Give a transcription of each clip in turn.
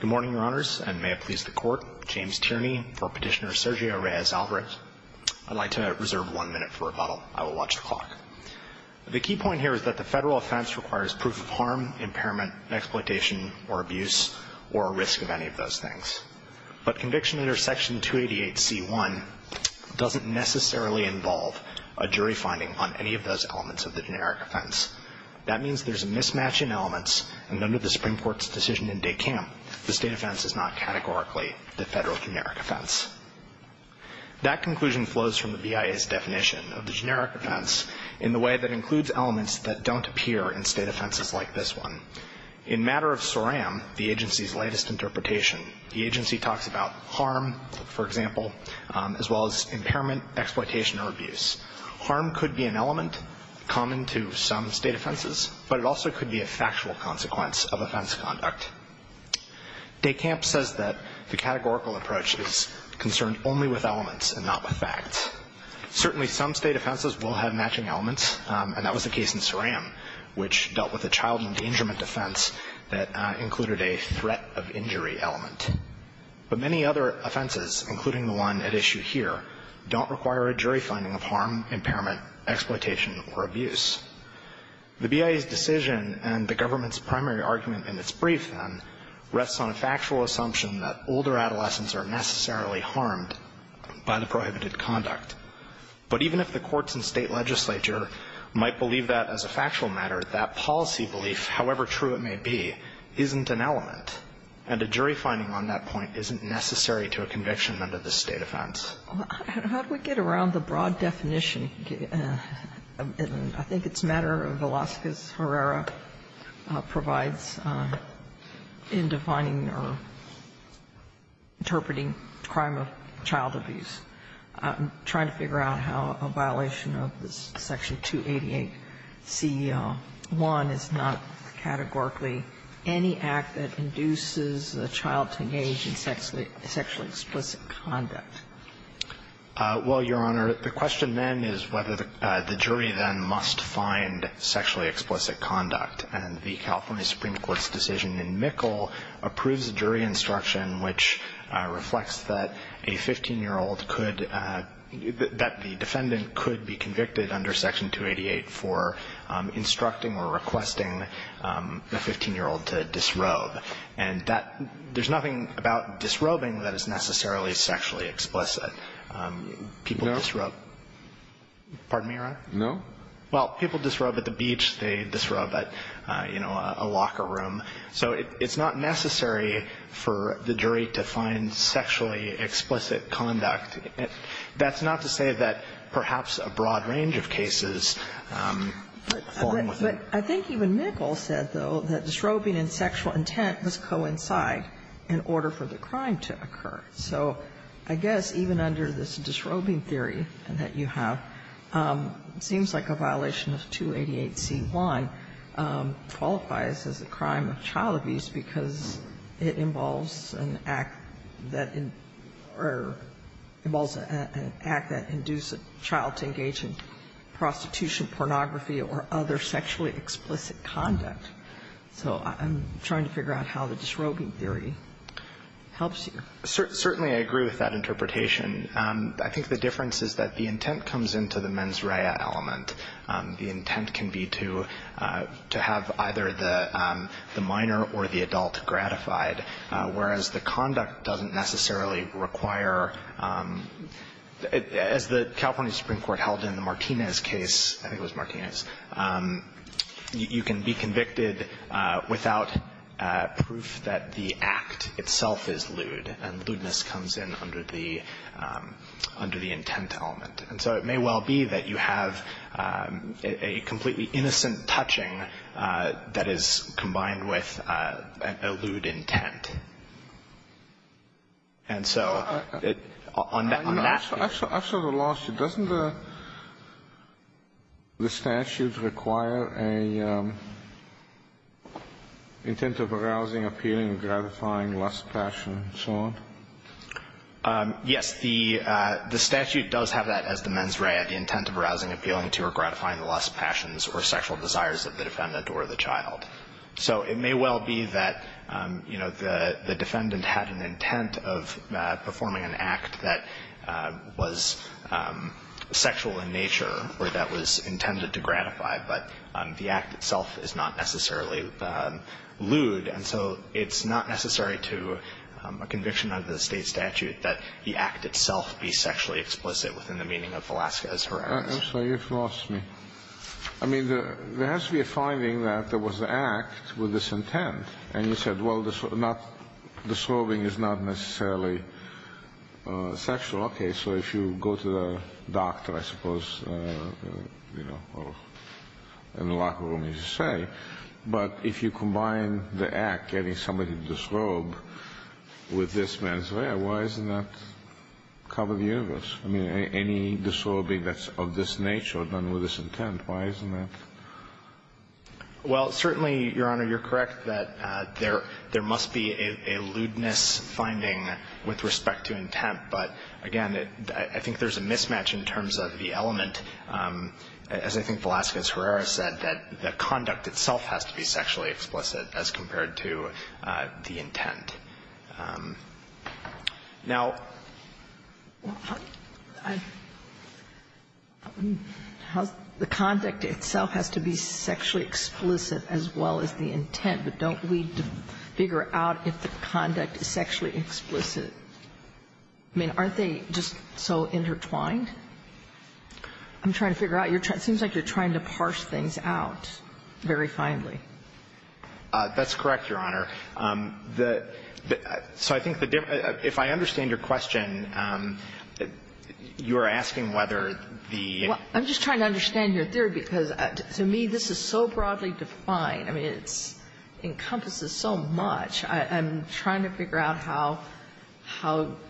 Good morning, Your Honors, and may it please the Court, James Tierney for Petitioner Sergio Reyes-Alvarez. I'd like to reserve one minute for rebuttal. I will watch the clock. The key point here is that the federal offense requires proof of harm, impairment, exploitation, or abuse, or a risk of any of those things. But conviction under Section 288C1 doesn't necessarily involve a jury finding on any of those elements of the generic offense. That means there's a mismatch in elements, and under the Supreme Court's decision in 288K, the state offense is not categorically the federal generic offense. That conclusion flows from the BIA's definition of the generic offense in the way that includes elements that don't appear in state offenses like this one. In matter of SORAM, the agency's latest interpretation, the agency talks about harm, for example, as well as impairment, exploitation, or abuse. Harm could be an element common to some state offenses, but it also could be a factual consequence of offense conduct. DECAMP says that the categorical approach is concerned only with elements and not with facts. Certainly, some state offenses will have matching elements, and that was the case in SORAM, which dealt with a child endangerment offense that included a threat of injury element. But many other offenses, including the one at issue here, don't require a jury finding of harm, impairment, exploitation, or abuse. The BIA's decision and the government's primary argument in its brief then rests on a factual assumption that older adolescents are necessarily harmed by the prohibited conduct. But even if the courts and state legislature might believe that as a factual matter, that policy belief, however true it may be, isn't an element, and a jury finding on that point isn't necessary to a conviction under the state offense. Sotomayor, how do we get around the broad definition? I think it's a matter of Velazquez-Herrera provides in defining or interpreting crime of child abuse. I'm trying to figure out how a violation of this Section 288c.1 is not categorically any act that induces a child to engage in sexually explicit conduct. Well, Your Honor, the question then is whether the jury then must find sexually explicit conduct. And the California Supreme Court's decision in Mikkel approves a jury instruction which reflects that a 15-year-old could, that the defendant could be convicted under Section 288 for instructing or requesting a 15-year-old to disrobe. And that, there's nothing about disrobing that is necessarily sexually explicit. People disrobe at the beach, they disrobe at, you know, a locker room. So it's not necessary for the jury to find sexually explicit conduct. That's not to say that perhaps a broad range of cases fall into that. But I think even Mikkel said, though, that disrobing and sexual intent must coincide in order for the crime to occur. So I guess even under this disrobing theory that you have, it seems like a violation of 288c.1 qualifies as a crime of child abuse because it involves an act that, or involves an act that induced a child to engage in prostitution, pornography, or other sexually explicit conduct. So I'm trying to figure out how the disrobing theory helps you. Certainly, I agree with that interpretation. I think the difference is that the intent comes into the mens rea element. The intent can be to have either the minor or the adult gratified, whereas the conduct doesn't necessarily require, as the California Supreme Court held in the Martinez case, I think it was Martinez, you can be convicted without proof that the act itself is lewd, and lewdness comes in under the intent element. And so it may well be that you have a completely innocent touching that is combined with a lewd intent. And so on that case ---- I'm sorry, I'm sorry, I'm sorry, I'm sorry, I lost you. Doesn't the statute require an intent of arousing, appealing, gratifying, lust, passion, and so on? Yes. The statute does have that as the mens rea, the intent of arousing, appealing to, or gratifying the lust, passions, or sexual desires of the defendant or the child. So it may well be that, you know, the defendant had an intent of performing an act that was sexual in nature or that was intended to gratify, but the act itself is not necessarily lewd. And so it's not necessary to a conviction under the State statute that the act itself be sexually explicit within the meaning of Velasquez horror. I'm sorry, you've lost me. I mean, there has to be a finding that there was an act with this intent. And you said, well, disrobing is not necessarily sexual. Okay, so if you go to the doctor, I suppose, you know, or in the locker room, as you say. But if you combine the act, getting somebody to disrobe with this mens rea, why doesn't that cover the universe? I mean, any disrobing that's of this nature done with this intent, why isn't that? Well, certainly, Your Honor, you're correct that there must be a lewdness finding with respect to intent, but again, I think there's a mismatch in terms of the element, as I think Velasquez-Herrera said, that the conduct itself has to be sexually explicit as compared to the intent. Now the conduct itself has to be sexually explicit as well as the intent, but don't we figure out if the conduct is sexually explicit? I mean, aren't they just so intertwined? I'm trying to figure out, it seems like you're trying to parse things out very finely. That's correct, Your Honor. So I think the difference, if I understand your question, you're asking whether the- Well, I'm just trying to understand your theory because, to me, this is so broadly defined. I mean, it encompasses so much. I'm trying to figure out how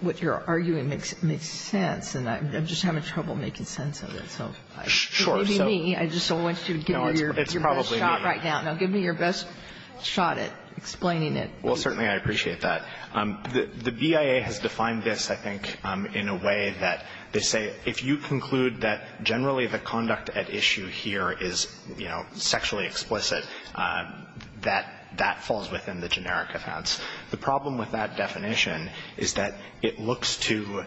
what you're arguing makes sense, and I'm just having trouble making sense of it. So it may be me, I just don't want you to give me your best shot right now. No, it's probably me. Give me your best shot at explaining it. Well, certainly I appreciate that. The BIA has defined this, I think, in a way that they say if you conclude that generally the conduct at issue here is, you know, sexually explicit, that that falls within the generic offense. The problem with that definition is that it looks to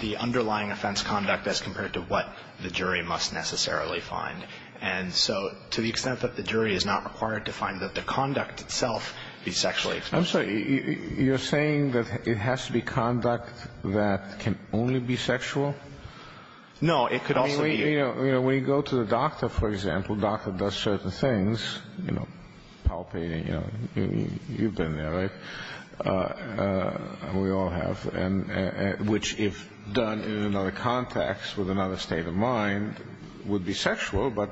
the underlying offense conduct as compared to what the jury must necessarily find. And so to the extent that the jury is not required to find that the conduct itself is sexually explicit- I'm sorry, you're saying that it has to be conduct that can only be sexual? No, it could also be- I mean, you know, when you go to the doctor, for example, the doctor does certain things, you know, palpating, you know, you've been there, right, we all have, which if done in another context, with another state of mind, would be sexual, but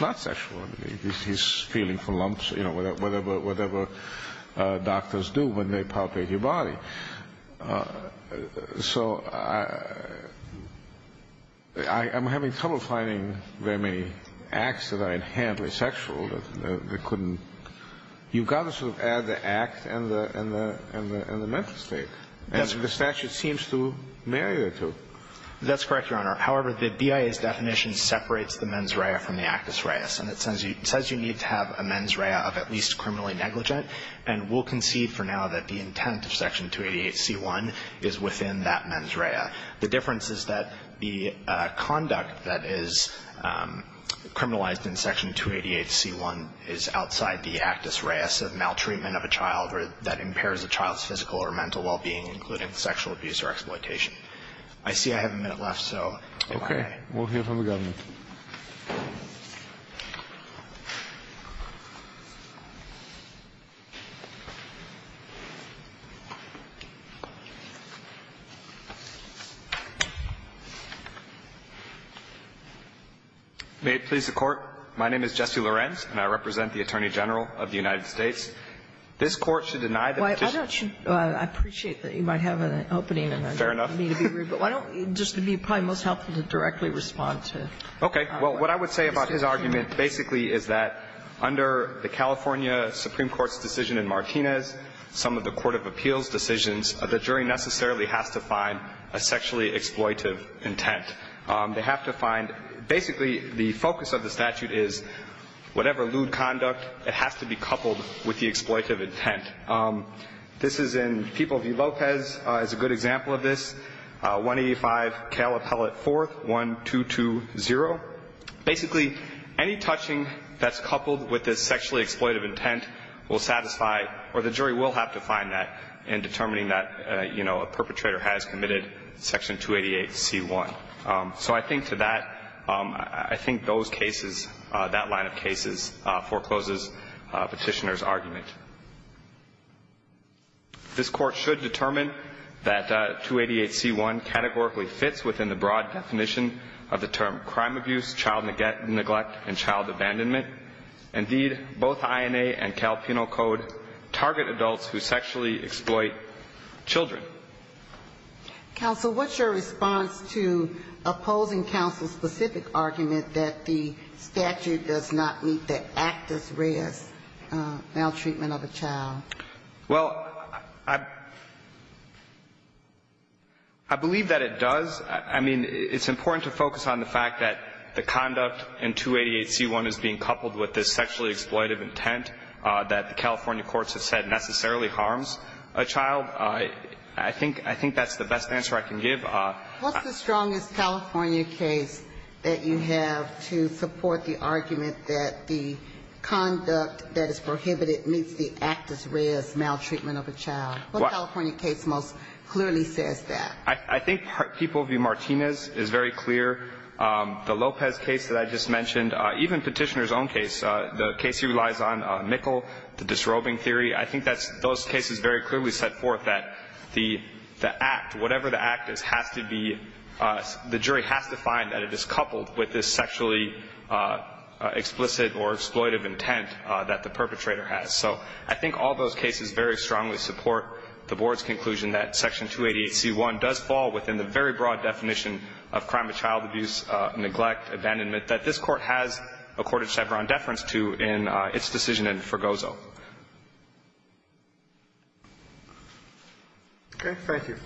not sexual. He's feeling for lumps, you know, whatever doctors do when they palpate your body. So I'm having trouble finding very many acts that are inherently sexual that couldn't- you've got to sort of add the act and the mental state. And the statute seems to marry the two. That's correct, Your Honor. However, the BIA's definition separates the mens rea from the actus rea, and it says you need to have a mens rea of at least criminally negligent, and we'll concede for now that the intent of Section 288C1 is within that mens rea. The difference is that the conduct that is criminalized in Section 288C1 is outside the actus rea of maltreatment of a child or that impairs a child's physical or mental well-being, including sexual abuse or exploitation. I see I have a minute left, so if I may. Okay. We'll hear from the government. May it please the Court. My name is Jesse Lorenz, and I represent the Attorney General of the United States. This Court should deny the petition- Why don't you – I appreciate that you might have an opening and I don't mean to be rude- Fair enough. But why don't – it would just be probably most helpful to directly respond to- Okay. Well, what I would say about his argument basically is that under the California Supreme Court's decision in Martinez, some of the court of appeals decisions, the jury necessarily has to find a sexually exploitive intent. They have to find – basically, the focus of the statute is whatever lewd conduct it has to be coupled with the exploitive intent. This is in People v. Lopez is a good example of this, 185 Cal Appellate 4th, 1220. Basically, any touching that's coupled with a sexually exploitive intent will satisfy – or the jury will have to find that in determining that, you know, a perpetrator has committed Section 288C1. So I think to that, I think those cases, that line of cases forecloses Petitioner's argument. This Court should determine that 288C1 categorically fits within the broad definition of the term crime abuse, child neglect, and child abandonment. Indeed, both INA and Cal Penal Code target adults who sexually exploit children. Counsel, what's your response to opposing counsel's specific argument that the statute does not meet the actus reus, maltreatment of a child? Well, I believe that it does. I mean, it's important to focus on the fact that the conduct in 288C1 is being coupled with this sexually exploitive intent that the California courts have said necessarily harms a child. I think that's the best answer I can give. What's the strongest California case that you have to support the argument that the conduct that is prohibited meets the actus reus, maltreatment of a child? What California case most clearly says that? I think People v. Martinez is very clear. The Lopez case that I just mentioned, even Petitioner's own case, the case he relies on, Mikkel, the disrobing theory, I think those cases very clearly set forth that the act, whatever the act is, has to be the jury has to find that it is coupled with this sexually explicit or exploitive intent that the perpetrator has. So I think all those cases very strongly support the Board's conclusion that Section 288C1 does fall within the very broad definition of crime of child abuse, neglect, abandonment, that this Court has accorded Chevron deference to in its decision in Fregoso. Okay. Thank you.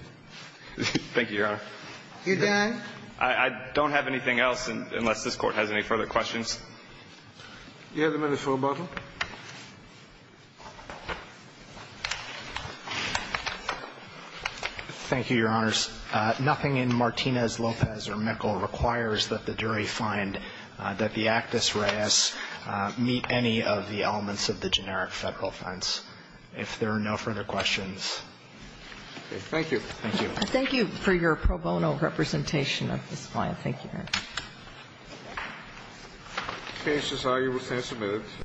Thank you, Your Honor. You done? I don't have anything else unless this Court has any further questions. You have a minute for rebuttal. Thank you, Your Honors. Nothing in Martinez, Lopez, or Mikkel requires that the jury find that the actus reis meet any of the elements of the generic Federal offense. If there are no further questions. Okay. Thank you. Thank you. Thank you for your pro bono representation of this client. Thank you, Your Honor. The case is argued with tense amends.